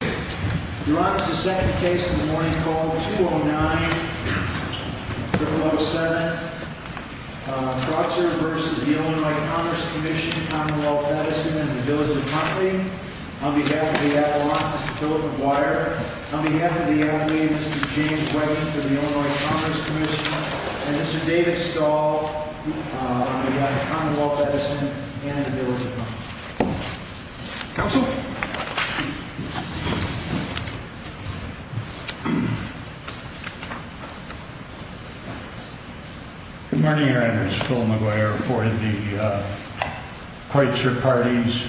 Your Honor, this is the second case in the morning called 209-0007. Breutzer v. Illinois Commerce Commission, Commonwealth Edison, and the Village of Huntley. On behalf of the Avalanche, Mr. Philip McGuire. On behalf of the Avalanche, Mr. James Wedding for the Illinois Commerce Commission. And Mr. David Stahl on behalf of Commonwealth Edison and the Village of Huntley. Counsel. Good morning, Your Honor. It's Phil McGuire for the Kreutzer Parties,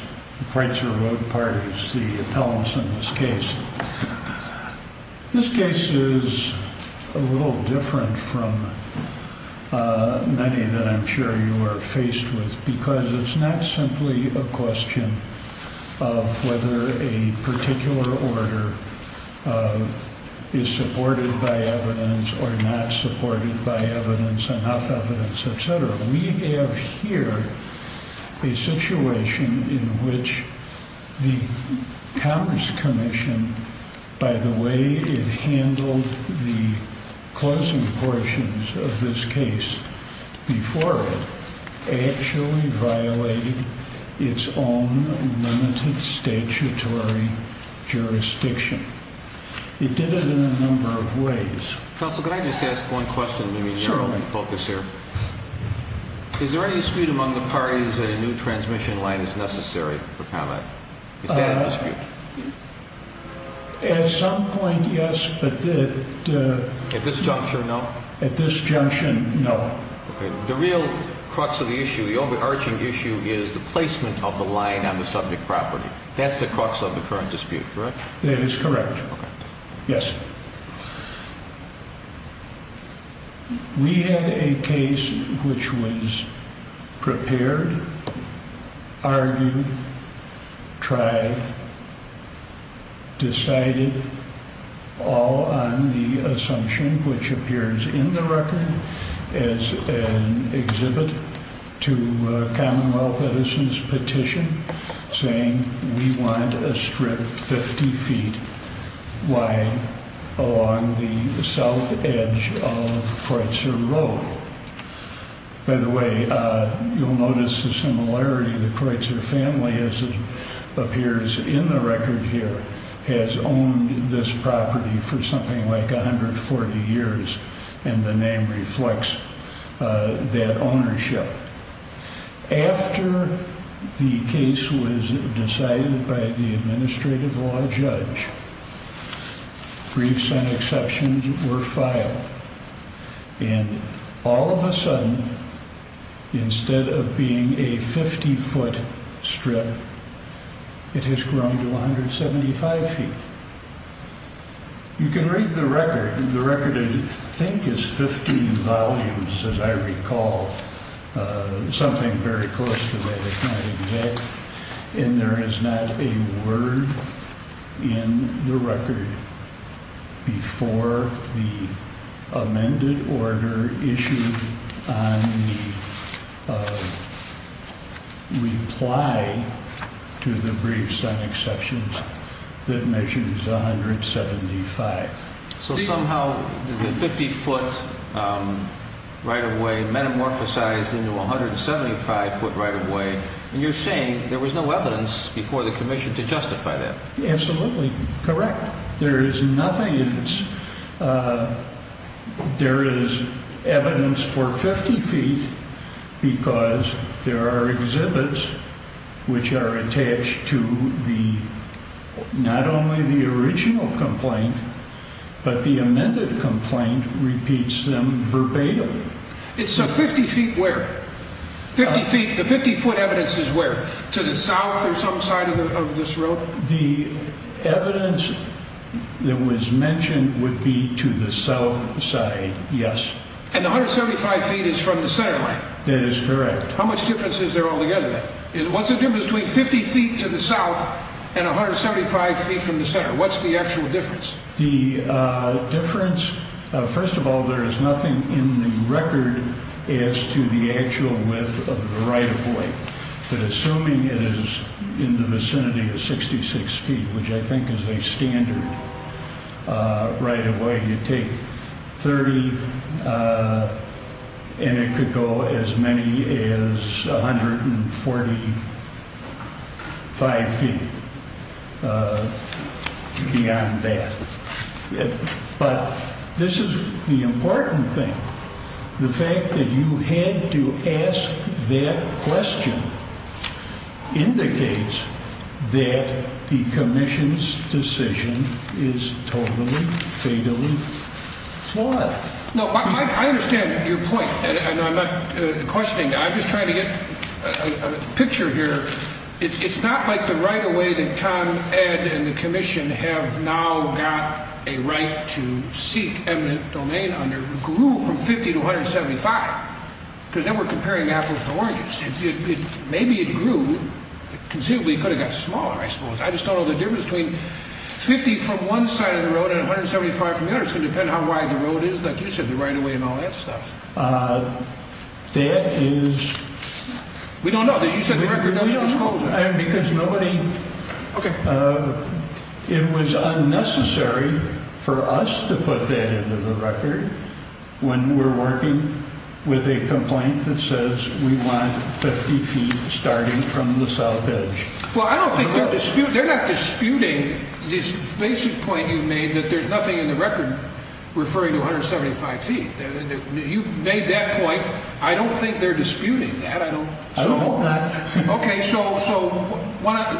Kreutzer Road Parties, the appellants in this case. This case is a little different from many that I'm sure you are faced with. Because it's not simply a question of whether a particular order is supported by evidence or not supported by evidence, enough evidence, etc. We have here a situation in which the Commerce Commission, by the way it handled the closing portions of this case before it, actually violated its own limited statutory jurisdiction. It did it in a number of ways. Counsel, can I just ask one question? Certainly. Is there any dispute among the parties that a new transmission line is necessary for combat? Is that a dispute? At some point, yes. At this juncture, no? At this junction, no. The real crux of the issue, the overarching issue is the placement of the line on the subject property. That's the crux of the current dispute, correct? That is correct. Yes. We had a case which was prepared, argued, tried, decided, all on the assumption which appears in the record as an exhibit to Commonwealth Edison's petition saying we want a strip 50 feet wide. Along the south edge of Kreutzer Road. By the way, you'll notice the similarity. The Kreutzer family, as it appears in the record here, has owned this property for something like 140 years. And the name reflects that ownership. After the case was decided by the administrative law judge, briefs and exceptions were filed. And all of a sudden, instead of being a 50 foot strip, it has grown to 175 feet. You can read the record. The record, I think, is 15 volumes, as I recall. Something very close to that. And there is not a word in the record before the amended order issued on the reply to the briefs and exceptions that measures 175. So somehow the 50 foot right-of-way metamorphosized into a 175 foot right-of-way. And you're saying there was no evidence before the commission to justify that. Absolutely correct. There is evidence for 50 feet because there are exhibits which are attached to not only the original complaint, but the amended complaint repeats them verbatim. So 50 feet where? The 50 foot evidence is where? To the south or some side of this road? The evidence that was mentioned would be to the south side, yes. And the 175 feet is from the center line? That is correct. How much difference is there altogether then? What's the difference between 50 feet to the south and 175 feet from the center? What's the actual difference? The difference, first of all, there is nothing in the record as to the actual width of the right-of-way. But assuming it is in the vicinity of 66 feet, which I think is a standard right-of-way, you take 30 and it could go as many as 145 feet beyond that. But this is the important thing. The fact that you had to ask that question indicates that the commission's decision is totally, fatally flawed. I understand your point. I'm not questioning. I'm just trying to get a picture here. It's not like the right-of-way that Tom, Ed, and the commission have now got a right to seek eminent domain under grew from 50 to 175. Because then we're comparing apples to oranges. Maybe it grew. Conceivably, it could have gotten smaller, I suppose. I just don't know the difference between 50 from one side of the road and 175 from the other. It's going to depend on how wide the road is, like you said, the right-of-way and all that stuff. That is... We don't know. You said the record doesn't disclose it. Because nobody... Okay. It was unnecessary for us to put that into the record when we're working with a complaint that says we want 50 feet starting from the south edge. Well, I don't think they're disputing this basic point you made that there's nothing in the record referring to 175 feet. You made that point. I don't think they're disputing that. I don't hope not. Okay. So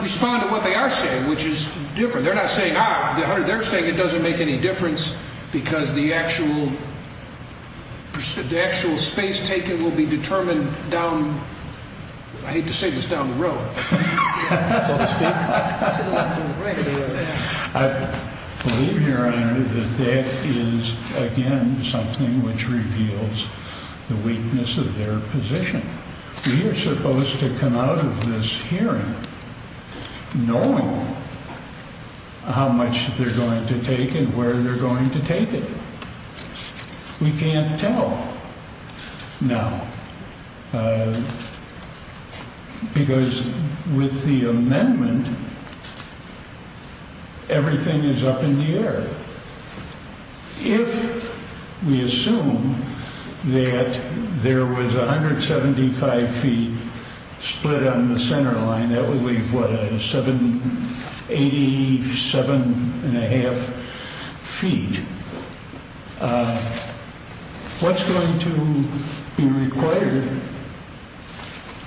respond to what they are saying, which is different. They're not saying, ah, they're saying it doesn't make any difference because the actual space taken will be determined down... I hate to say this down the road. I believe, Your Honor, that that is, again, something which reveals the weakness of their position. We are supposed to come out of this hearing knowing how much they're going to take and where they're going to take it. We can't tell. No. Because with the amendment, everything is up in the air. If we assume that there was 175 feet split on the center line, that would leave, what, 87 1⁄2 feet. What's going to be required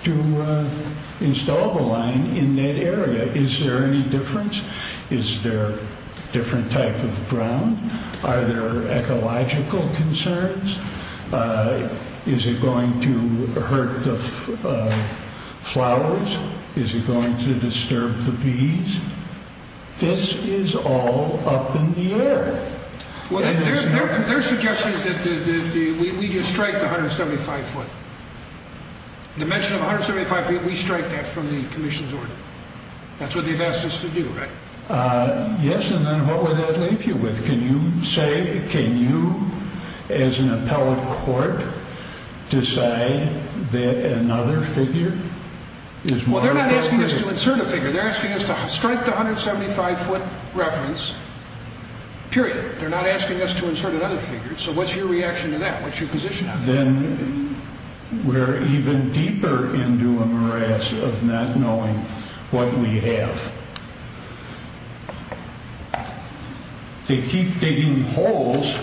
to install the line in that area? Is there any difference? Is there a different type of ground? Are there ecological concerns? Is it going to hurt the flowers? Is it going to disturb the bees? This is all up in the air. Their suggestion is that we strike the 175 foot. The mention of 175 feet, we strike that from the commission's order. That's what they've asked us to do, right? Yes, and then what would that leave you with? Can you say, can you, as an appellate court, decide that another figure is more appropriate? Well, they're not asking us to insert a figure. They're asking us to strike the 175 foot reference, period. They're not asking us to insert another figure. So what's your reaction to that? What's your position on that? Then we're even deeper into a morass of not knowing what we have. They keep digging holes.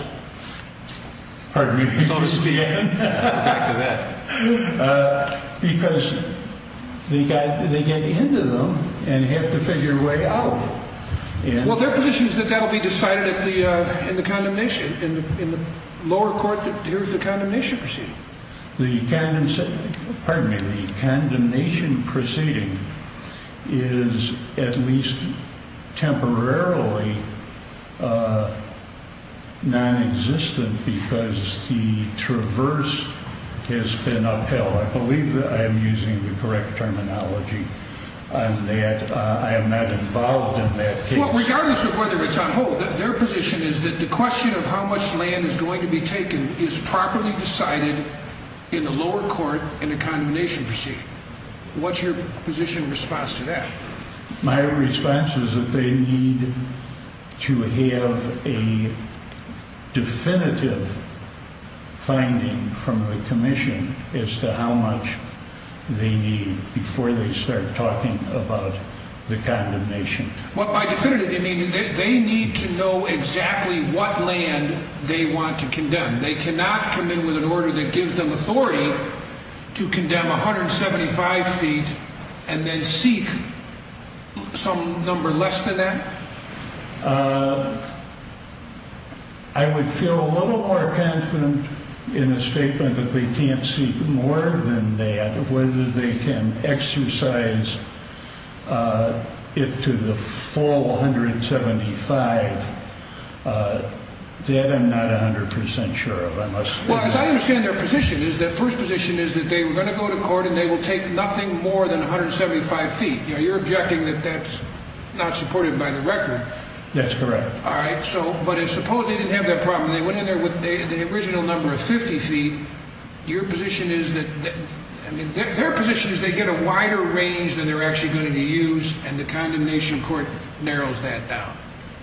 Pardon me. Back to that. Because they get into them and have to figure a way out. Well, their position is that that will be decided in the condemnation. In the lower court, here's the condemnation proceeding. The condemnation proceeding is at least temporarily non-existent because the traverse has been upheld. I believe that I am using the correct terminology on that. I am not involved in that case. Regardless of whether it's on hold, their position is that the question of how much land is going to be taken is properly decided in the lower court in the condemnation proceeding. What's your position in response to that? My response is that they need to have a definitive finding from the commission as to how much they need before they start talking about the condemnation. By definitive, you mean they need to know exactly what land they want to condemn. They cannot come in with an order that gives them authority to condemn 175 feet and then seek some number less than that? I would feel a little more confident in the statement that they can't seek more than that, whether they can exercise it to the full 175. That I'm not 100% sure of. As I understand their position, their first position is that they were going to go to court and they will take nothing more than 175 feet. You're objecting that that's not supported by the record. That's correct. But suppose they didn't have that problem. They went in there with the original number of 50 feet. Their position is they get a wider range than they're actually going to use and the condemnation court narrows that down.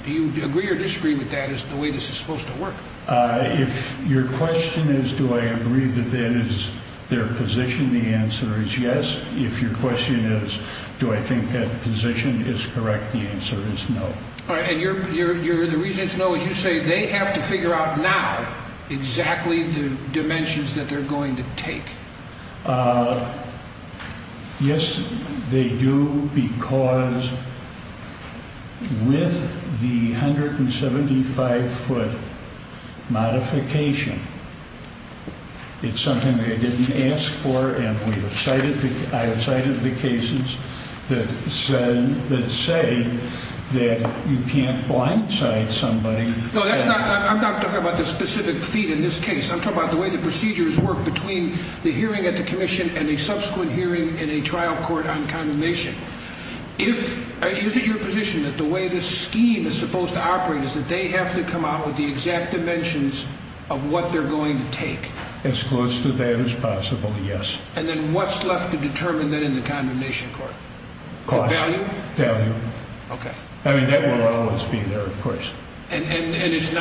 Do you agree or disagree with that as to the way this is supposed to work? If your question is do I agree with that as their position, the answer is yes. If your question is do I think that position is correct, the answer is no. And the reason it's no is you say they have to figure out now exactly the dimensions that they're going to take. Yes, they do because with the 175-foot modification, it's something they didn't ask for and I have cited the cases that say that you can't blindside somebody. No, I'm not talking about the specific feet in this case. I'm talking about the way the procedures work between the hearing at the commission and a subsequent hearing in a trial court on condemnation. Is it your position that the way this scheme is supposed to operate is that they have to come out with the exact dimensions of what they're going to take? As close to that as possible, yes. And then what's left to determine then in the condemnation court? Cost. Value? Value. Okay. I mean, that will always be there, of course. And it's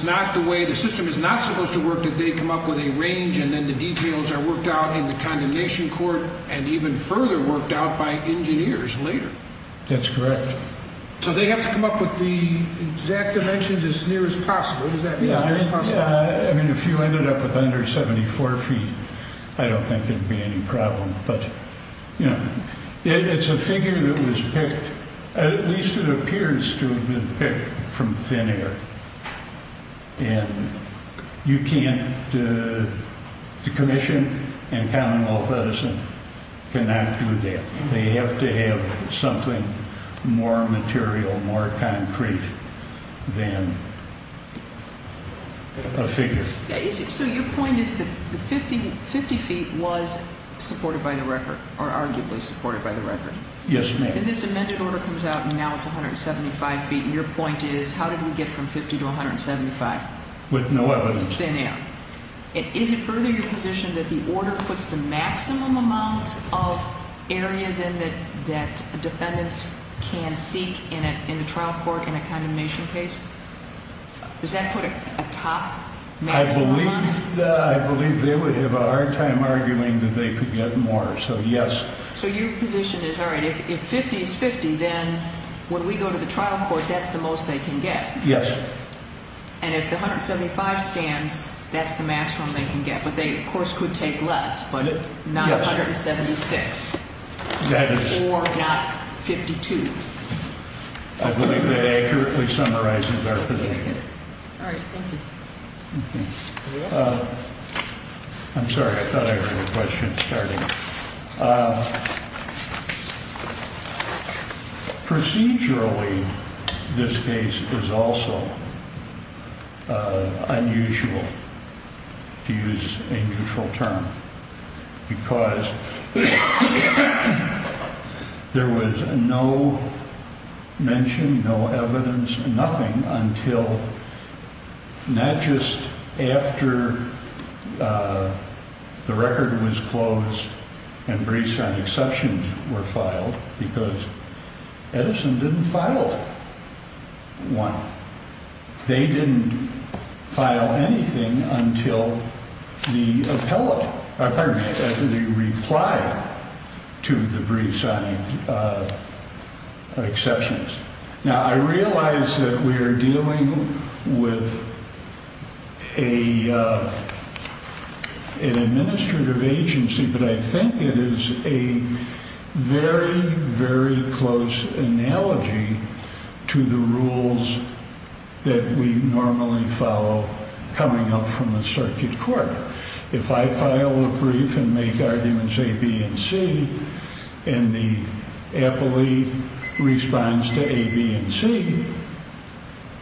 not the way the system is not supposed to work that they come up with a range and then the details are worked out in the condemnation court and even further worked out by engineers later. That's correct. So they have to come up with the exact dimensions as near as possible. Does that mean as near as possible? I mean, if you ended up with under 74 feet, I don't think there would be any problem. But, you know, it's a figure that was picked, at least it appears to have been picked from thin air. And you can't, the commission and Commonwealth Edison cannot do that. They have to have something more material, more concrete than a figure. So your point is that the 50 feet was supported by the record or arguably supported by the record? Yes, ma'am. And this amended order comes out and now it's 175 feet, and your point is how did we get from 50 to 175? With no evidence. Thin air. Is it further your position that the order puts the maximum amount of area that defendants can seek in the trial court in a condemnation case? Does that put a top maximum on it? I believe they would have a hard time arguing that they could get more, so yes. So your position is, all right, if 50 is 50, then when we go to the trial court, that's the most they can get? Yes. And if the 175 stands, that's the maximum they can get. But they, of course, could take less, but not 176 or not 52. I believe that accurately summarizes our position. All right. Thank you. I'm sorry. I thought I heard a question starting. Procedurally, this case is also unusual, to use a neutral term, because there was no mention, no evidence, nothing, until not just after the record was closed and brief signed exceptions were filed, because Edison didn't file one. They didn't file anything until the appellate, pardon me, the reply to the brief signed exceptions. Now, I realize that we are dealing with an administrative agency, but I think it is a very, very close analogy to the rules that we normally follow coming up from the circuit court. If I file a brief and make arguments A, B, and C, and the appellee responds to A, B, and C,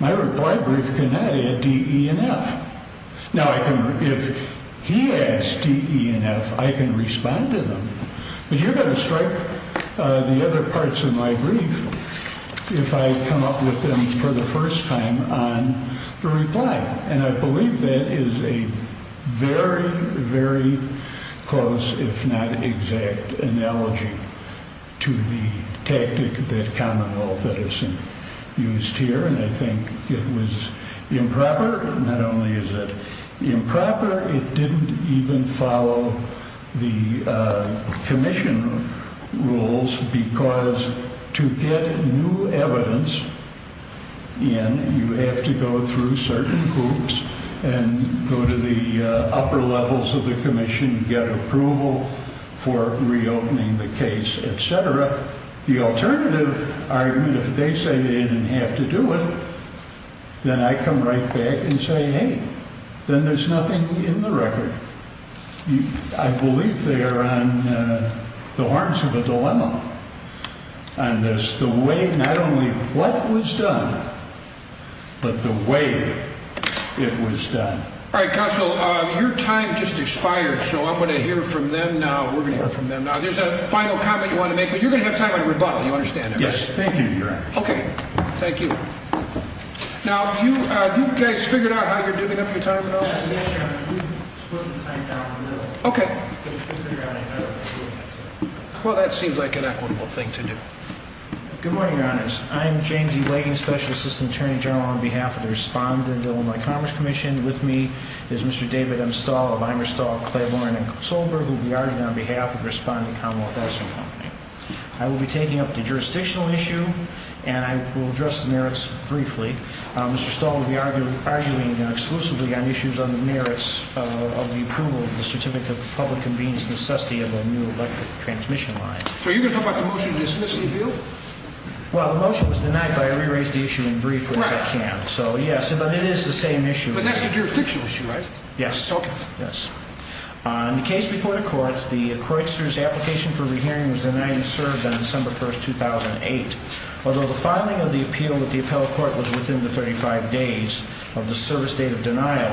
my reply brief cannot add D, E, and F. Now, if he adds D, E, and F, I can respond to them, but you're going to strike the other parts of my brief if I come up with them for the first time on the reply, and I believe that is a very, very close, if not exact, analogy to the tactic that Commonwealth Edison used here, and I think it was improper, not only is it improper, it didn't even follow the commission rules, because to get new evidence in, you have to go through certain groups and go to the upper levels of the commission, get approval for reopening the case, etc. The alternative argument, if they say they didn't have to do it, then I come right back and say, hey, then there's nothing in the record. I believe they are on the horns of a dilemma on this, the way not only what was done, but the way it was done. All right, counsel, your time just expired, so I'm going to hear from them now. We're going to hear from them now. There's a final comment you want to make, but you're going to have time for a rebuttal. You understand that, right? Yes, thank you, Your Honor. Okay, thank you. Now, have you guys figured out how you're doing up your time at all? Yes, Your Honor. We've split the time down a little. Okay. Well, that seems like an equitable thing to do. Good morning, Your Honors. I'm Jane D. Wagen, Special Assistant Attorney General, on behalf of the Respondent Bill of My Commerce Commission. With me is Mr. David M. Stahl, Eleanor Stahl, Clay Warren, and Kurt Solberg, who will be arguing on behalf of the Respondent Commonwealth Asset Company. I will be taking up the jurisdictional issue, and I will address the merits briefly. Mr. Stahl will be arguing exclusively on issues on the merits of the approval of the Certificate of Public Convenience and Necessity of a New Electric Transmission Line. So you're going to talk about the motion to dismiss the appeal? Well, the motion was denied, but I re-raised the issue in brief, which I can. Right. So, yes, but it is the same issue. But that's a jurisdictional issue, right? Yes. Okay. Yes. In the case before the Court, the Kreutzer's application for a re-hearing was denied and served on December 1, 2008. Although the filing of the appeal with the appellate court was within the 35 days of the service date of denial,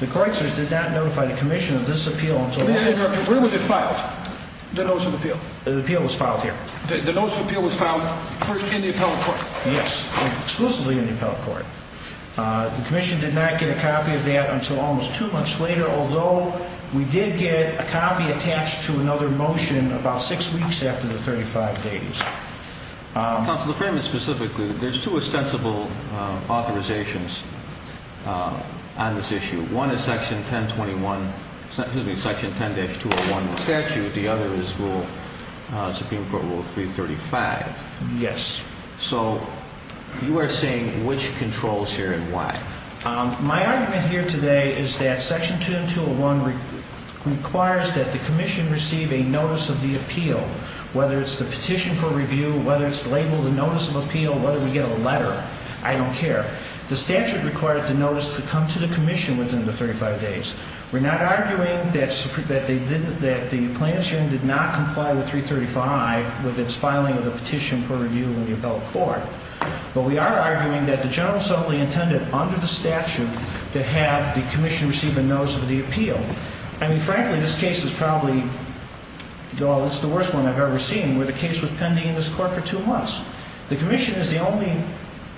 the Kreutzer's did not notify the Commission of this appeal until... Where was it filed, the notice of appeal? The appeal was filed here. The notice of appeal was filed first in the appellate court? Yes, exclusively in the appellate court. The Commission did not get a copy of that until almost two months later, although we did get a copy attached to another motion about six weeks after the 35 days. Counsel, to frame it specifically, there's two ostensible authorizations on this issue. One is Section 10-201, excuse me, Section 10-201 of the statute. The other is Supreme Court Rule 335. Yes. So you are saying which controls here and why? My argument here today is that Section 10-201 requires that the Commission receive a notice of the appeal, whether it's the petition for review, whether it's labeled a notice of appeal, whether we get a letter. I don't care. The statute requires the notice to come to the Commission within the 35 days. We're not arguing that the plaintiff's union did not comply with 335 with its filing of the petition for review in the appellate court, but we are arguing that the General Assembly intended under the statute to have the Commission receive a notice of the appeal. I mean, frankly, this case is probably the worst one I've ever seen, where the case was pending in this court for two months. The Commission is the only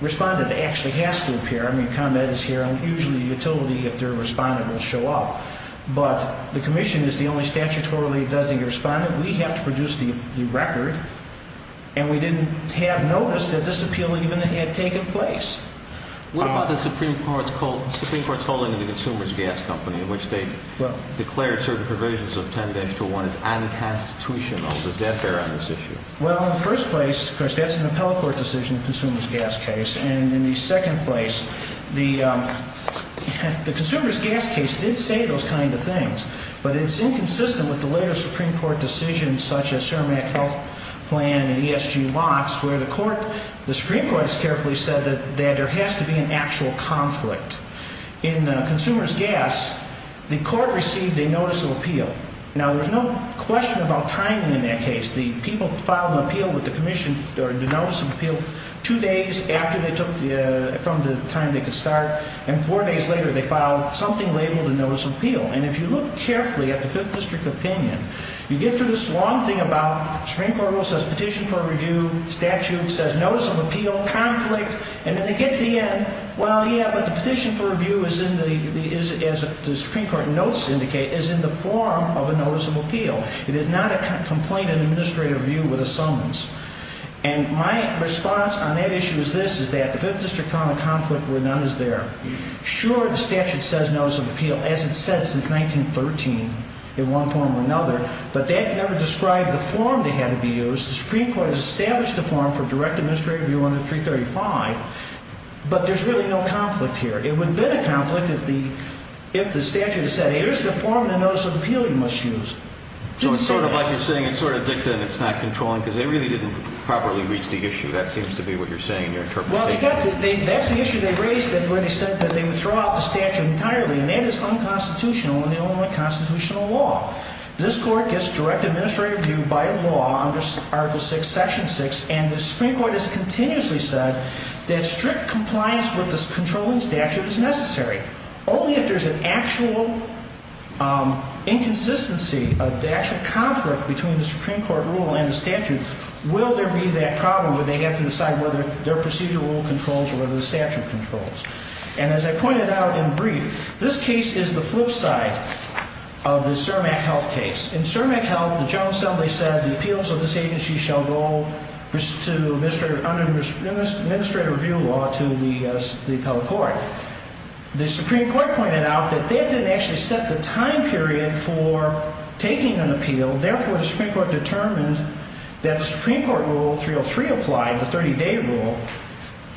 respondent that actually has to appear. I mean, combat is here, and usually the utility, if they're a respondent, will show up. But the Commission is the only statutorily designated respondent. We have to produce the record, and we didn't have notice that this appeal even had taken place. What about the Supreme Court's holding of the Consumers Gas Company, in which they declared certain provisions of 10-201 as unconstitutional? Does that bear on this issue? Well, in the first place, of course, that's an appellate court decision, the Consumers Gas case. And in the second place, the Consumers Gas case did say those kind of things, but it's inconsistent with the later Supreme Court decisions, such as CERMEC Health Plan and ESG locks, where the Supreme Court has carefully said that there has to be an actual conflict. In Consumers Gas, the court received a Notice of Appeal. Now, there's no question about timing in that case. The people filed an appeal with the Commission, or the Notice of Appeal, two days after they took, from the time they could start, and four days later they filed something labeled a Notice of Appeal. And if you look carefully at the Fifth District opinion, you get through this long thing about, Supreme Court rule says Petition for Review, statute says Notice of Appeal, conflict, and then they get to the end, well, yeah, but the Petition for Review, as the Supreme Court notes indicate, is in the form of a Notice of Appeal. It is not a complaint in Administrative Review with a summons. And my response on that issue is this, is that the Fifth District found a conflict where none is there. Sure, the statute says Notice of Appeal, as it's said since 1913, in one form or another, but that never described the form that had to be used. The Supreme Court has established the form for direct Administrative Review under 335, but there's really no conflict here. It would have been a conflict if the statute had said, here's the form the Notice of Appeal you must use. So it's sort of like you're saying, it's sort of dicta and it's not controlling, because they really didn't properly reach the issue, that seems to be what you're saying in your interpretation. Well, that's the issue they raised when they said that they would throw out the statute entirely, and that is unconstitutional in the only constitutional law. This Court gets direct Administrative Review by law under Article VI, Section 6, and the Supreme Court has continuously said that strict compliance with the controlling statute is necessary. Only if there's an actual inconsistency, an actual conflict between the Supreme Court rule and the statute, will there be that problem where they have to decide whether their procedural rule controls or whether the statute controls. And as I pointed out in brief, this case is the flip side of the CERMEC health case. In CERMEC health, the General Assembly said the appeals of this agency shall go under Administrative Review law to the Appellate Court. The Supreme Court pointed out that they didn't actually set the time period for taking an appeal. Therefore, the Supreme Court determined that the Supreme Court Rule 303 applied, the 30-day rule,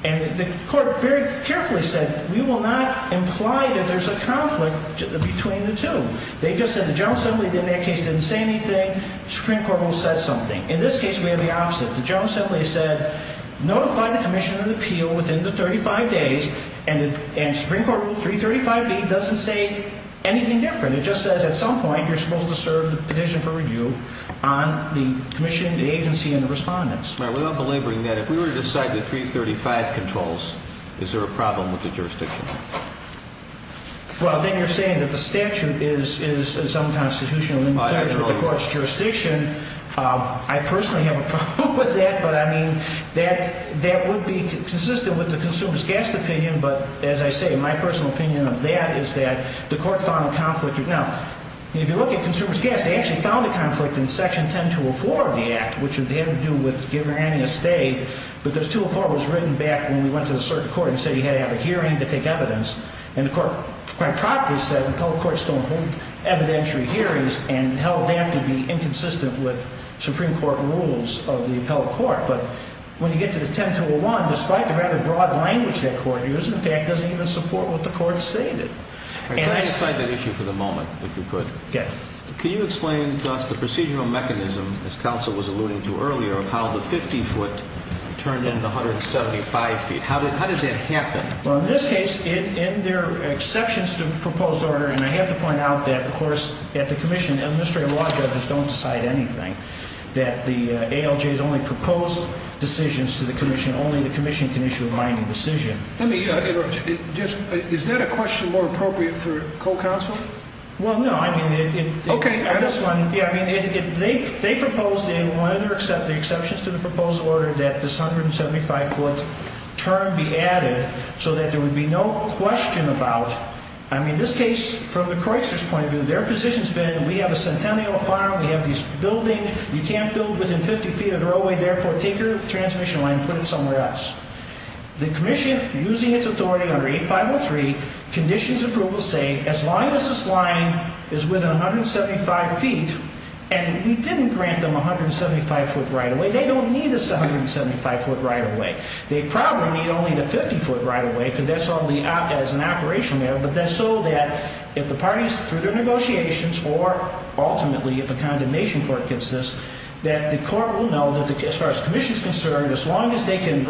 and the Court very carefully said we will not imply that there's a conflict between the two. They just said the General Assembly in that case didn't say anything. The Supreme Court rule said something. In this case, we have the opposite. The General Assembly said notify the commission of the appeal within the 35 days, and the Supreme Court Rule 335B doesn't say anything different. It just says at some point you're supposed to serve the petition for review on the commission, the agency, and the respondents. We're not belaboring that. If we were to decide the 335 controls, is there a problem with the jurisdiction? Well, then you're saying that the statute is in some constitutional limitations with the Court's jurisdiction. I personally have a problem with that, but, I mean, that would be consistent with the consumer's guest opinion. But, as I say, my personal opinion of that is that the Court found a conflict. Now, if you look at consumer's guest, they actually found a conflict in Section 10204 of the Act, which had to do with give or any estate, because 204 was written back when we went to the circuit court and said you had to have a hearing to take evidence. And the Court quite properly said appellate courts don't hold evidentiary hearings and held that to be inconsistent with Supreme Court rules of the appellate court. But when you get to the 10201, despite the rather broad language that Court used, in fact, doesn't even support what the Court stated. Can I decide that issue for the moment, if you could? Yes. Can you explain to us the procedural mechanism, as counsel was alluding to earlier, of how the 50-foot turned into 175 feet? How does that happen? Well, in this case, there are exceptions to the proposed order, and I have to point out that, of course, at the Commission, administrative law judges don't decide anything, that the ALJs only propose decisions to the Commission. Only the Commission can issue a binding decision. Is that a question more appropriate for co-counsel? Well, no. Okay. They proposed and wanted to accept the exceptions to the proposed order that this 175-foot turn be added so that there would be no question about, I mean, this case, from the Kreutzer's point of view, their position has been we have a centennial farm, we have these buildings, you can't build within 50 feet of the roadway, therefore take your transmission line and put it somewhere else. The Commission, using its authority under 8503, conditions approval to say, as long as this line is within 175 feet, and we didn't grant them a 175-foot right-of-way, they don't need a 175-foot right-of-way. They probably don't need a 50-foot right-of-way because that's only as an operational matter, but that's so that if the parties, through their negotiations, or ultimately if a condemnation court gets this, that the court will know that as far as the Commission is concerned, as long as they can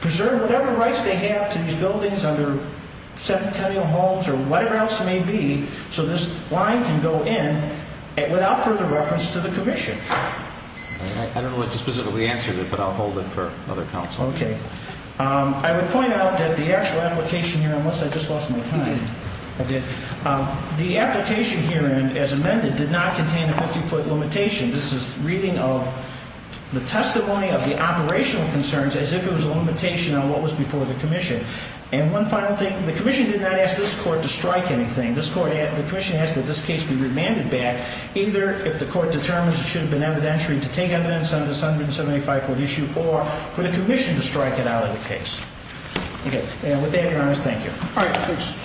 preserve whatever rights they have to these buildings under centennial homes or whatever else it may be, so this line can go in without further reference to the Commission. I don't know what to specifically answer to that, but I'll hold it for other counsel. Okay. I would point out that the actual application here, unless I just lost my time, the application here, as amended, did not contain a 50-foot limitation. This is reading of the testimony of the operational concerns as if it was a limitation on what was before the Commission. And one final thing, the Commission did not ask this court to strike anything. The Commission asked that this case be remanded back either if the court determines it should have been evidentiary to take evidence on the 175-foot issue or for the Commission to strike it out of the case. Okay. And with that, Your Honors, thank you. All right, please.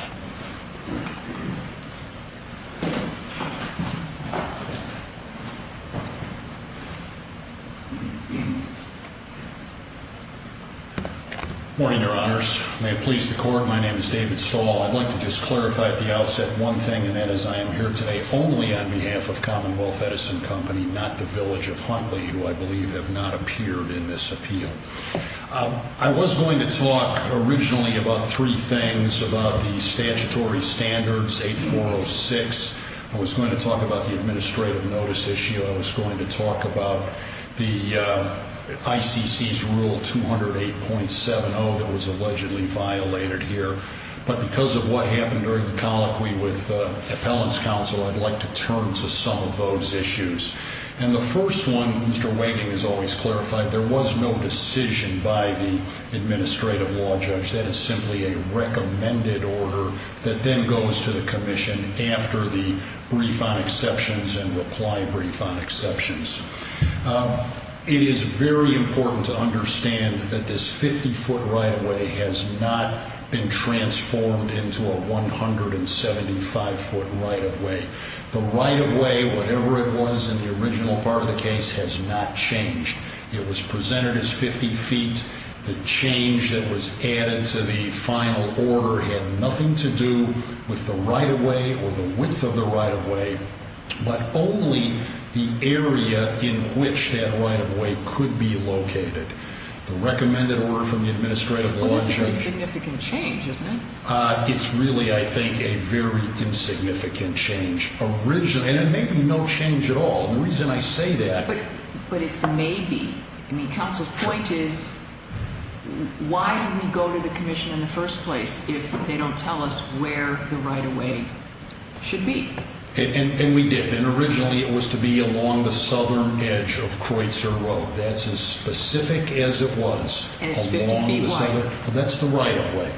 Morning, Your Honors. May it please the Court, my name is David Stahl. I'd like to just clarify at the outset one thing, and that is I am here today only on behalf of Commonwealth Edison Company, not the village of Huntley, who I believe have not appeared in this appeal. I was going to talk originally about three things, about the statutory standards, 8406. I was going to talk about the administrative notice issue. I was going to talk about the ICC's Rule 208.70 that was allegedly violated here. But because of what happened during the colloquy with Appellant's Counsel, I'd like to turn to some of those issues. And the first one, Mr. Wagening has always clarified, there was no decision by the administrative law judge. That is simply a recommended order that then goes to the Commission after the brief on exceptions and reply brief on exceptions. It is very important to understand that this 50-foot right-of-way has not been transformed into a 175-foot right-of-way. The right-of-way, whatever it was in the original part of the case, has not changed. It was presented as 50 feet. The change that was added to the final order had nothing to do with the right-of-way or the width of the right-of-way, but only the area in which that right-of-way could be located. The recommended order from the administrative law judge... Well, that's a very significant change, isn't it? It's really, I think, a very insignificant change. And it may be no change at all. The reason I say that... But it's maybe. Counsel's point is, why do we go to the Commission in the first place if they don't tell us where the right-of-way should be? And we did. And originally, it was to be along the southern edge of Creutzer Road. That's as specific as it was. And it's 50 feet wide. That's the right-of-way.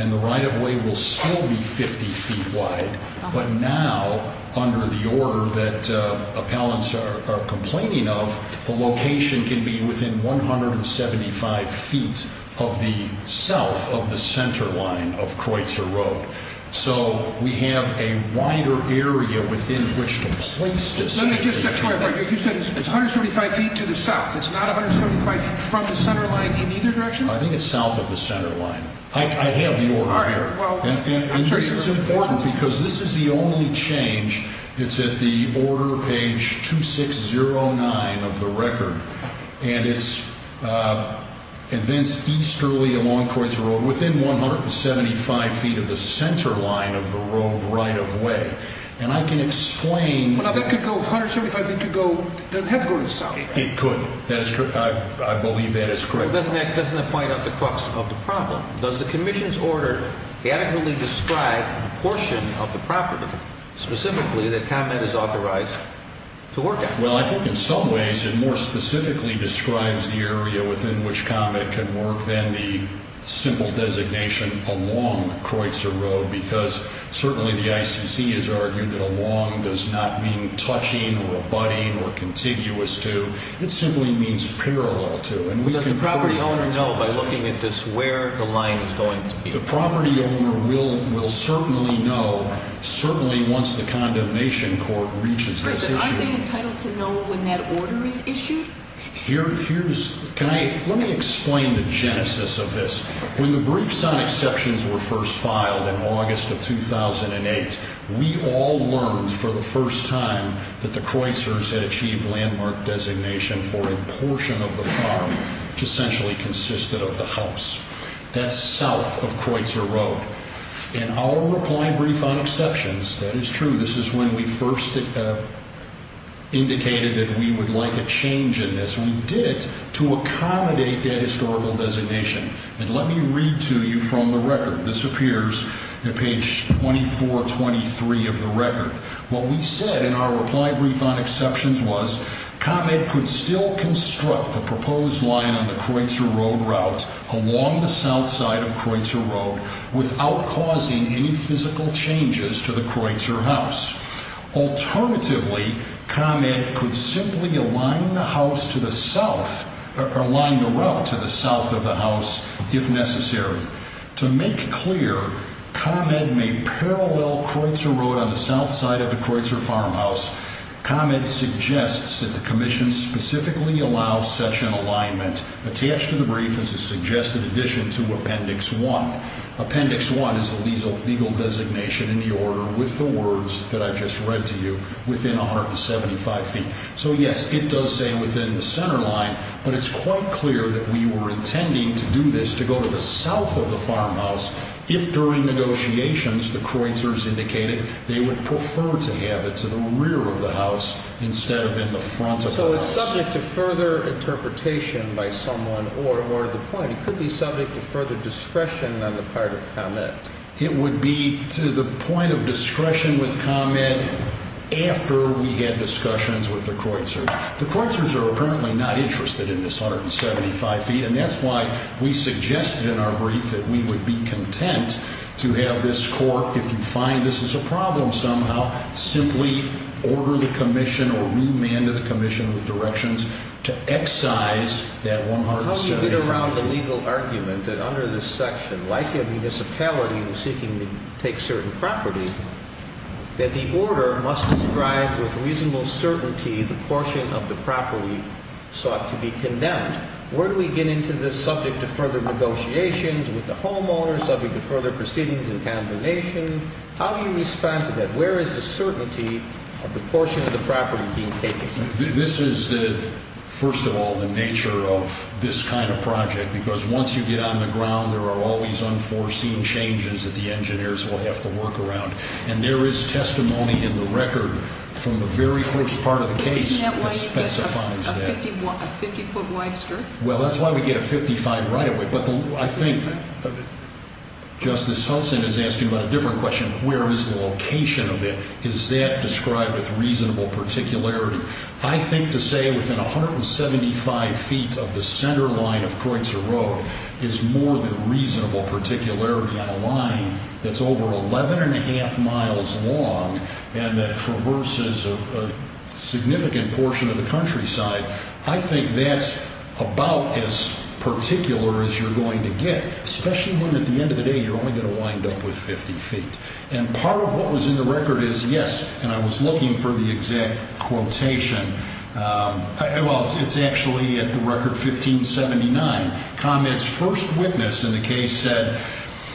And the right-of-way will still be 50 feet wide. But now, under the order that appellants are complaining of, the location can be within 175 feet of the south of the center line of Creutzer Road. So we have a wider area within which to place this. Let me just clarify. You said it's 135 feet to the south. It's not 135 from the center line in either direction? I think it's south of the center line. I have the order here. And this is important because this is the only change. It's at the order page 2609 of the record. And it's advanced easterly along Creutzer Road within 175 feet of the center line of the road right-of-way. And I can explain... Well, if it could go 175 feet, it doesn't have to go to the south. It could. I believe that is correct. But doesn't that find out the crux of the problem? Does the commission's order adequately describe the portion of the property specifically that ComEd is authorized to work at? Well, I think in some ways it more specifically describes the area within which ComEd can work than the simple designation along Creutzer Road because certainly the ICC has argued that along does not mean touching or abutting or contiguous to. It simply means parallel to. Does the property owner know by looking at this where the line is going to be? The property owner will certainly know, certainly once the condemnation court reaches this issue. But aren't they entitled to know when that order is issued? Here's... Let me explain the genesis of this. When the briefs on exceptions were first filed in August of 2008, we all learned for the first time that the Creutzers had achieved landmark designation for a portion of the farm, which essentially consisted of the house. That's south of Creutzer Road. In our reply brief on exceptions, that is true. This is when we first indicated that we would like a change in this. We did it to accommodate that historical designation. And let me read to you from the record. This appears at page 2423 of the record. What we said in our reply brief on exceptions was, ComEd could still construct the proposed line on the Creutzer Road route along the south side of Creutzer Road without causing any physical changes to the Creutzer house. Alternatively, ComEd could simply align the house to the south, or align the route to the south of the house if necessary. To make clear, ComEd may parallel Creutzer Road on the south side of the Creutzer farmhouse. ComEd suggests that the Commission specifically allow such an alignment. Attached to the brief is a suggested addition to Appendix 1. Appendix 1 is the legal designation in the order with the words that I just read to you within 175 feet. So yes, it does say within the center line, but it's quite clear that we were intending to do this to go to the south of the farmhouse if during negotiations the Creutzers indicated they would prefer to have it to the rear of the house instead of in the front of the house. So it's subject to further interpretation by someone or the point. It could be subject to further discretion on the part of ComEd. It would be to the point of discretion with ComEd after we had discussions with the Creutzers. The Creutzers are apparently not interested in this 175 feet, and that's why we suggested in our brief that we would be content to have this court, if you find this is a problem somehow, simply order the Commission or remand the Commission with directions to excise that 175 feet. How do you get around the legal argument that under this section, like a municipality seeking to take certain property, that the order must describe with reasonable certainty the portion of the property sought to be condemned? Where do we get into this subject to further negotiations with the homeowners, subject to further proceedings and condemnation? How do you respond to that? Where is the certainty of the portion of the property being taken? This is, first of all, the nature of this kind of project, because once you get on the ground, there are always unforeseen changes that the engineers will have to work around, and there is testimony in the record from the very first part of the case that specifies that. Isn't that why you get a 50-foot wide strip? Well, that's why we get a 55 right away, but I think Justice Hulson is asking about a different question. Where is the location of it? Is that described with reasonable particularity? I think to say within 175 feet of the center line of Kreutzer Road is more than reasonable particularity on a line that's over 11 1⁄2 miles long and that traverses a significant portion of the countryside. I think that's about as particular as you're going to get, especially when at the end of the day you're only going to wind up with 50 feet. And part of what was in the record is, yes, and I was looking for the exact quotation. Well, it's actually at the record 1579. ComEd's first witness in the case said,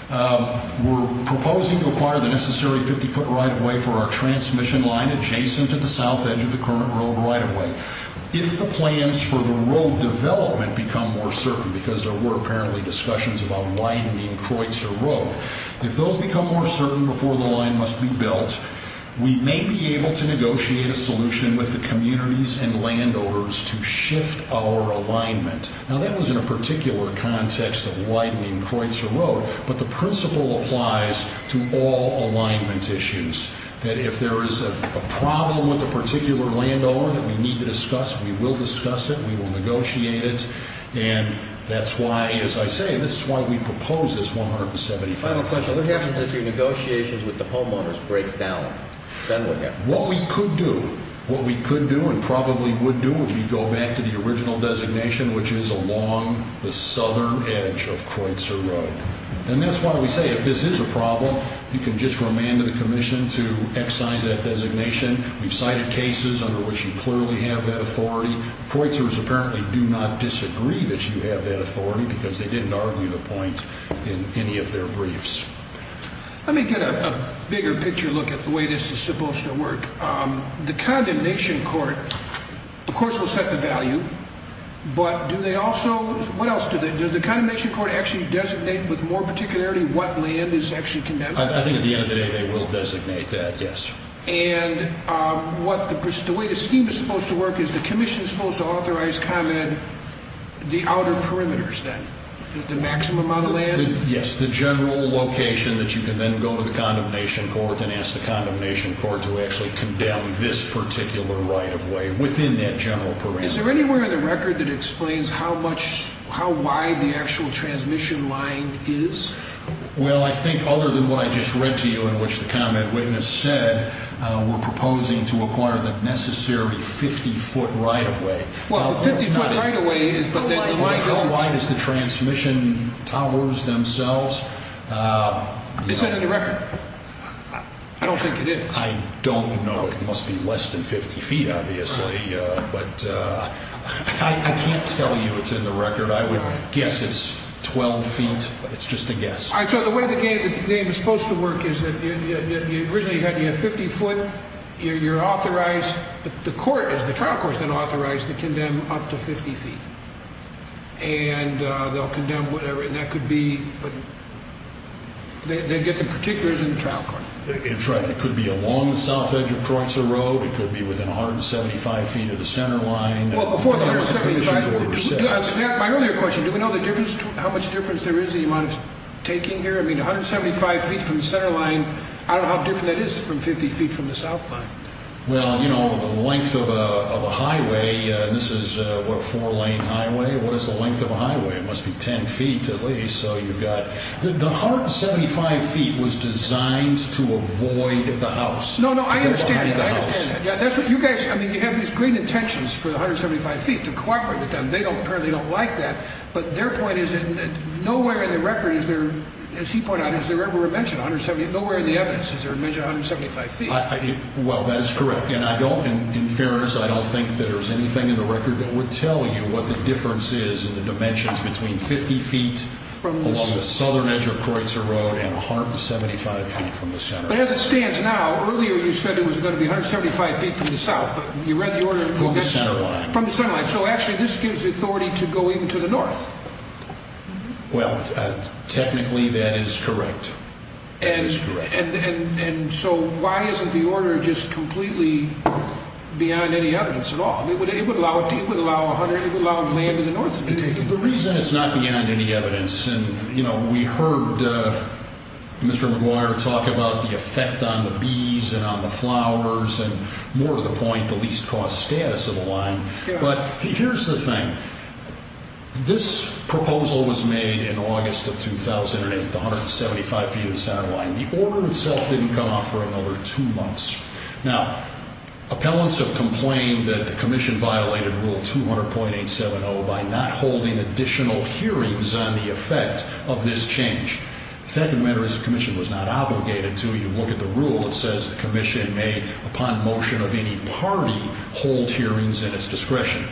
We're proposing to acquire the necessary 50-foot right-of-way for our transmission line adjacent to the south edge of the current road right-of-way. If the plans for the road development become more certain, because there were apparently discussions about widening Kreutzer Road, if those become more certain before the line must be built, we may be able to negotiate a solution with the communities and landowners to shift our alignment. Now, that was in a particular context of widening Kreutzer Road, but the principle applies to all alignment issues, that if there is a problem with a particular landowner that we need to discuss, we will discuss it, we will negotiate it. And that's why, as I say, this is why we propose this 175. Final question, what happens if your negotiations with the homeowners break down? What we could do, what we could do and probably would do, would be go back to the original designation, which is along the southern edge of Kreutzer Road. And that's why we say, if this is a problem, you can just remand the commission to excise that designation. We've cited cases under which you clearly have that authority. Kreutzers apparently do not disagree that you have that authority because they didn't argue the point in any of their briefs. Let me get a bigger picture look at the way this is supposed to work. The condemnation court, of course, will set the value, but do they also, what else do they, does the condemnation court actually designate with more particularity what land is actually condemned? I think at the end of the day they will designate that, yes. And the way the scheme is supposed to work is the commission is supposed to authorize comment the outer perimeters then, the maximum amount of land? Yes, the general location that you can then go to the condemnation court and ask the condemnation court to actually condemn this particular right of way within that general perimeter. Is there anywhere in the record that explains how wide the actual transmission line is? Well, I think other than what I just read to you in which the comment witness said, we're proposing to acquire the necessary 50-foot right of way. Well, the 50-foot right of way is, but then why does... How wide is the transmission towers themselves? Is that in the record? I don't think it is. I don't know. It must be less than 50 feet, obviously. But I can't tell you it's in the record. I would guess it's 12 feet. It's just a guess. So the way the game is supposed to work is that originally you have 50 foot, you're authorized, the trial court is then authorized to condemn up to 50 feet. And they'll condemn whatever, and that could be, they get the particulars in the trial court. That's right. It could be along the south edge of Croitzer Road. It could be within 175 feet of the center line. My earlier question, do we know how much difference there is in the amount of taking here? I mean, 175 feet from the center line, I don't know how different that is from 50 feet from the south line. Well, you know, the length of a highway, and this is a four-lane highway, what is the length of a highway? It must be 10 feet at least. The 175 feet was designed to avoid the house. No, no, I understand that. I understand that. You guys, I mean, you have these great intentions for the 175 feet to cooperate with them. They apparently don't like that. But their point is that nowhere in the record is there, as he pointed out, is there ever a mention of 170, nowhere in the evidence is there a mention of 175 feet. Well, that is correct. And I don't, in fairness, I don't think there's anything in the record that would tell you what the difference is in the dimensions between 50 feet along the southern edge of Croitzer Road and 175 feet from the center line. But as it stands now, earlier you said it was going to be 175 feet from the south, but you read the order. From the center line. From the center line, so actually this gives the authority to go even to the north. Well, technically that is correct. And so why isn't the order just completely beyond any evidence at all? It would allow a hundred, it would allow land in the north to be taken. The reason it's not beyond any evidence, and, you know, we heard Mr. McGuire talk about the effect on the bees and on the flowers and more to the point, the least-caused status of the line. But here's the thing. This proposal was made in August of 2008, the 175 feet of the center line. The order itself didn't come out for another two months. Now, appellants have complained that the commission violated Rule 200.870 by not holding additional hearings on the effect of this change. The fact of the matter is the commission was not obligated to. You look at the rule that says the commission may, upon motion of any party, hold hearings at its discretion.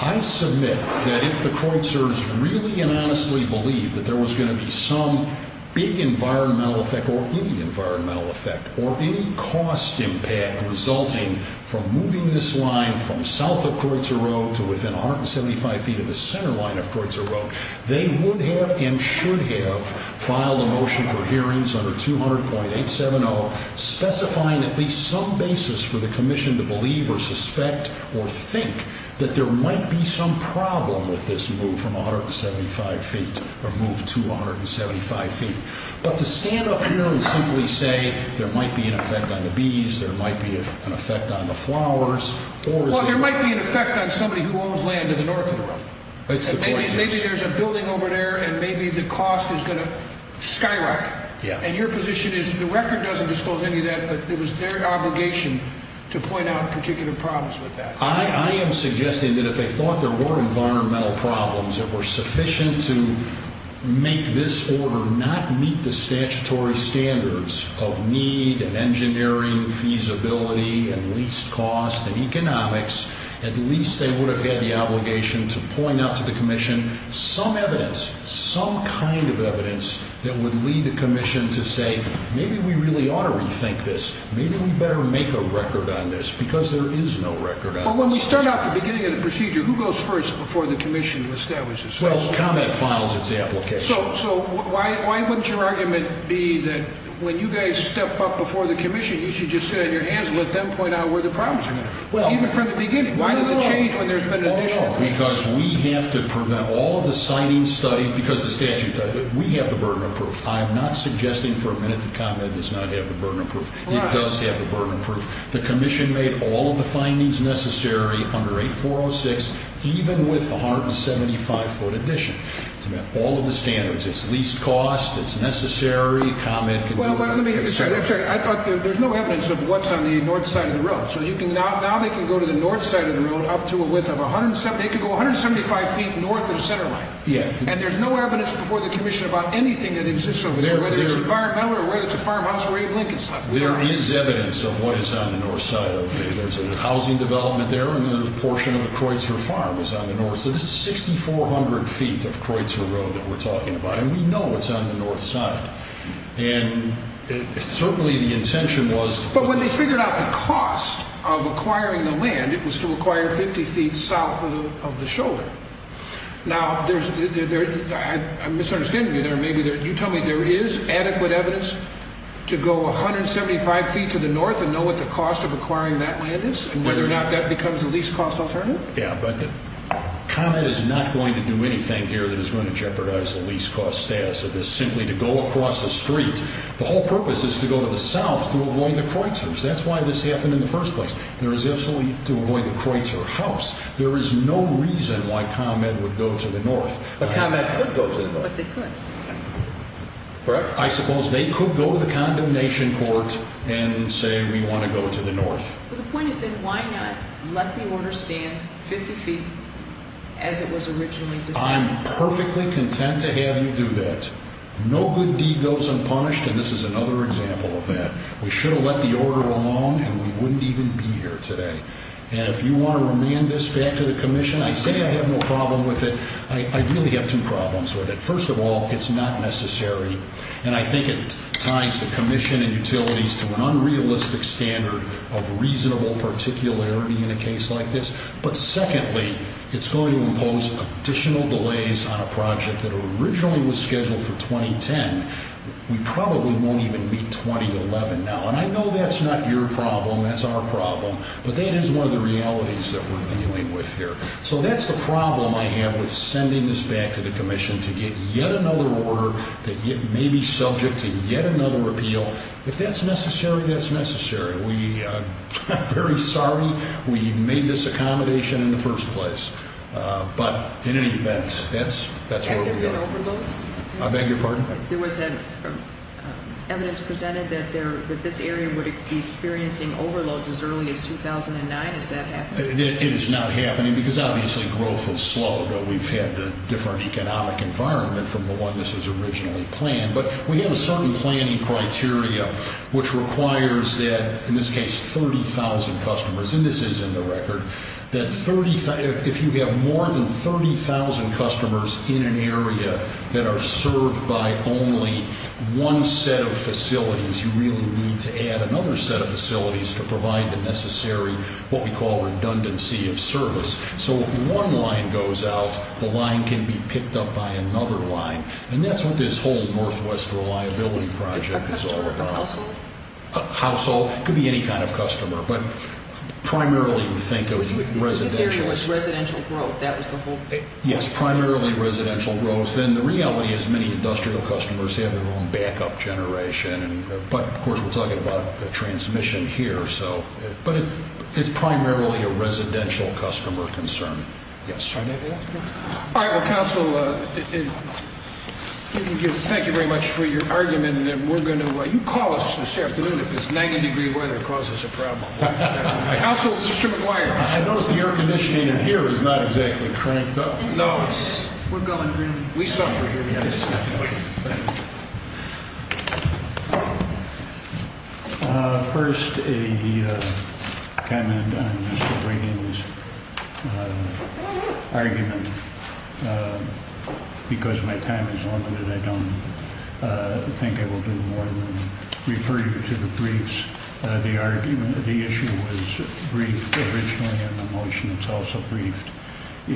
I submit that if the Kreutzer's really and honestly believed that there was going to be some big environmental effect or any environmental effect or any cost impact resulting from moving this line from south of Kreutzer Road to within 175 feet of the center line of Kreutzer Road, they would have and should have filed a motion for hearings under 200.870 specifying at least some basis for the commission to believe or suspect or think that there might be some problem with this move from 175 feet or move to 175 feet. But to stand up here and simply say there might be an effect on the bees, there might be an effect on the flowers, or is it... Well, there might be an effect on somebody who owns land in the north of the road. That's the point, yes. Maybe there's a building over there and maybe the cost is going to skyrocket. Yeah. And your position is the record doesn't disclose any of that, but it was their obligation to point out particular problems with that. I am suggesting that if they thought there were environmental problems that were sufficient to make this order not meet the statutory standards of need and engineering feasibility and least cost and economics, at least they would have had the obligation to point out to the commission some evidence, some kind of evidence that would lead the commission to say, maybe we really ought to rethink this, maybe we better make a record on this, because there is no record on this. But when we start out the beginning of the procedure, who goes first before the commission establishes... Well, comment files its application. So why wouldn't your argument be that when you guys step up before the commission, you should just sit on your hands and let them point out where the problems are? Well... Even from the beginning. Why does it change when there's been an addition? Because we have to prevent all of the signings studied, because the statute does it. We have the burden of proof. I am not suggesting for a minute that ComEd does not have the burden of proof. It does have the burden of proof. The commission made all of the findings necessary under 8406, even with the 175-foot addition. It's about all of the standards. It's leased cost, it's necessary, ComEd can do it. Well, let me get this straight. I thought there's no evidence of what's on the north side of the road. So now they can go to the north side of the road up to a width of 170... They can go 175 feet north of the center line. Yeah. And there's no evidence before the commission about anything that exists over there, whether it's environmental or whether it's a farmhouse way in Lincolnstown. There is evidence of what is on the north side. There's a housing development there, and a portion of the Kreutzer farm is on the north. So this is 6,400 feet of Kreutzer Road that we're talking about, and we know it's on the north side. And certainly the intention was... But when they figured out the cost of acquiring the land, it was to acquire 50 feet south of the shoulder. Now, I'm misunderstanding you there. You tell me there is adequate evidence to go 175 feet to the north and know what the cost of acquiring that land is and whether or not that becomes the leased cost alternative? Yeah, but ComEd is not going to do anything here that is going to jeopardize the leased cost status of this, simply to go across the street. The whole purpose is to go to the south to avoid the Kreutzers. That's why this happened in the first place. There is absolutely to avoid the Kreutzer house. There is no reason why ComEd would go to the north. But ComEd could go to the north. But they could. Correct? I suppose they could go to the condemnation court and say, we want to go to the north. But the point is then, why not let the order stand 50 feet as it was originally decided? I'm perfectly content to have you do that. No good deed goes unpunished, and this is another example of that. We should have let the order alone, and we wouldn't even be here today. And if you want to remand this back to the Commission, I say I have no problem with it. I really have two problems with it. First of all, it's not necessary. And I think it ties the Commission and utilities to an unrealistic standard of reasonable particularity in a case like this. But secondly, it's going to impose additional delays on a project that originally was scheduled for 2010. We probably won't even meet 2011 now. And I know that's not your problem. That's our problem. But that is one of the realities that we're dealing with here. So that's the problem I have with sending this back to the Commission to get yet another order that may be subject to yet another repeal. If that's necessary, that's necessary. We are very sorry we made this accommodation in the first place. But in any event, that's where we are. Have there been overloads? I beg your pardon? There was evidence presented that this area would be experiencing overloads as early as 2009. Does that happen? It is not happening because, obviously, growth will slow. But we've had a different economic environment from the one this was originally planned. But we have a certain planning criteria which requires that, in this case, 30,000 customers, and this is in the record, that if you have more than 30,000 customers in an area that are served by only one set of facilities, you really need to add another set of facilities to provide the necessary, what we call, redundancy of service. So if one line goes out, the line can be picked up by another line. And that's what this whole Northwest Reliability Project is all about. Is a customer a household? A household. It could be any kind of customer. But primarily we think of residential. This area was residential growth. That was the whole thing. Yes, primarily residential growth. Then the reality is many industrial customers have their own backup generation. But, of course, we're talking about transmission here. But it's primarily a residential customer concern. Yes. All right. Well, Council, thank you very much for your argument. You call us this afternoon if this 90-degree weather causes a problem. Council, Mr. McGuire. I notice the air conditioning in here is not exactly cranked up. We're going green. We suffer here. First, a comment on Mr. Reagan's argument. Because my time is limited, I don't think I will do more than refer you to the briefs. The issue was briefed originally in the motion. It's also briefed in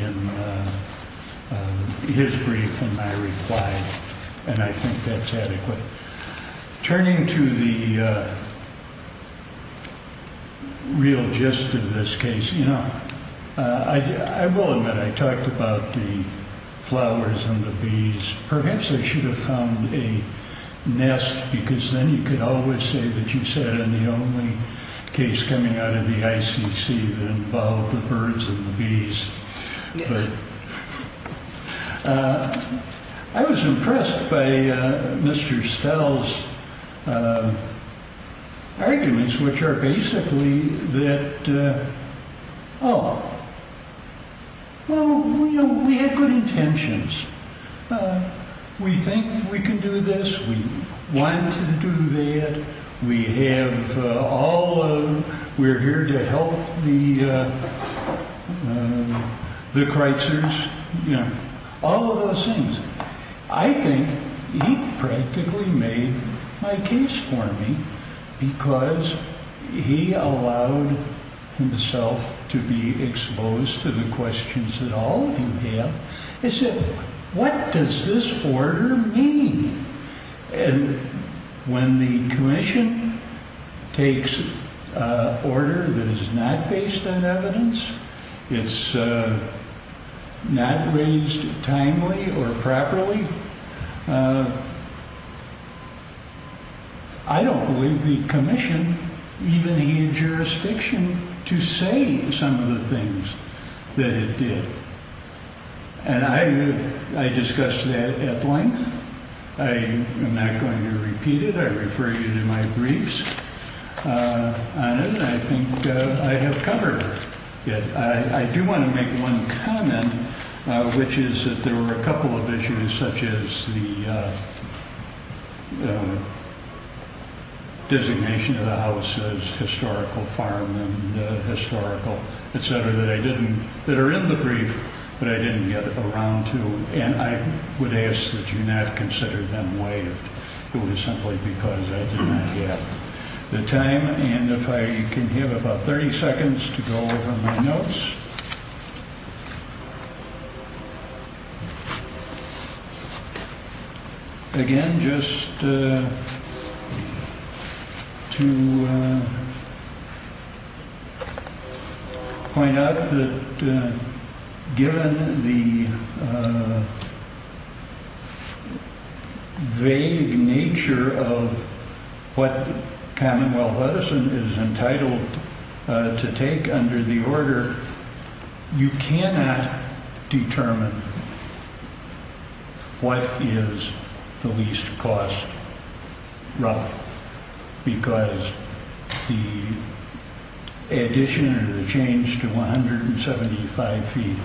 his brief and my reply. And I think that's adequate. Turning to the real gist of this case, you know, I will admit I talked about the flowers and the bees. Perhaps I should have found a nest, because then you could always say that you said I'm the only case coming out of the ICC that involved the birds and the bees. I was impressed by Mr. Stell's arguments, which are basically that, oh, well, we had good intentions. We think we can do this. We want to do that. We have all of them. We're here to help the Kreutzers. You know, all of those things. I think he practically made my case for me because he allowed himself to be exposed to the questions that all of you have. He said, what does this order mean? And when the commission takes order that is not based on evidence, it's not raised timely or properly, I don't believe the commission even had jurisdiction to say some of the things that it did. And I discussed that at length. I am not going to repeat it. I refer you to my briefs on it, and I think I have covered it. I do want to make one comment, which is that there were a couple of issues, such as the designation of the house as historical farm and historical, et cetera, that are in the brief, but I didn't get around to. And I would ask that you not consider them waived. It was simply because I did not get the time. And if I can have about 30 seconds to go over my notes. Again, just to point out that given the. The nature of what Commonwealth Edison is entitled to take under the order, you cannot determine. What is the least cost? Because the addition or the change to 175 feet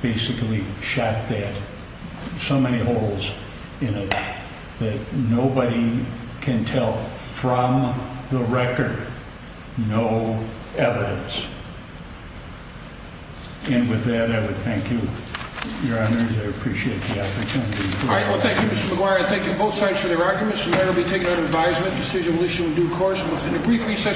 basically shot that so many holes in it that nobody can tell from the record. No evidence. And with that, I would thank you. Your honor, I appreciate the opportunity. All right, well, thank you, Mr. McGuire. Thank you both sides for their arguments. And that will be taken under advisement. Decision will issue in due course. In a brief recess.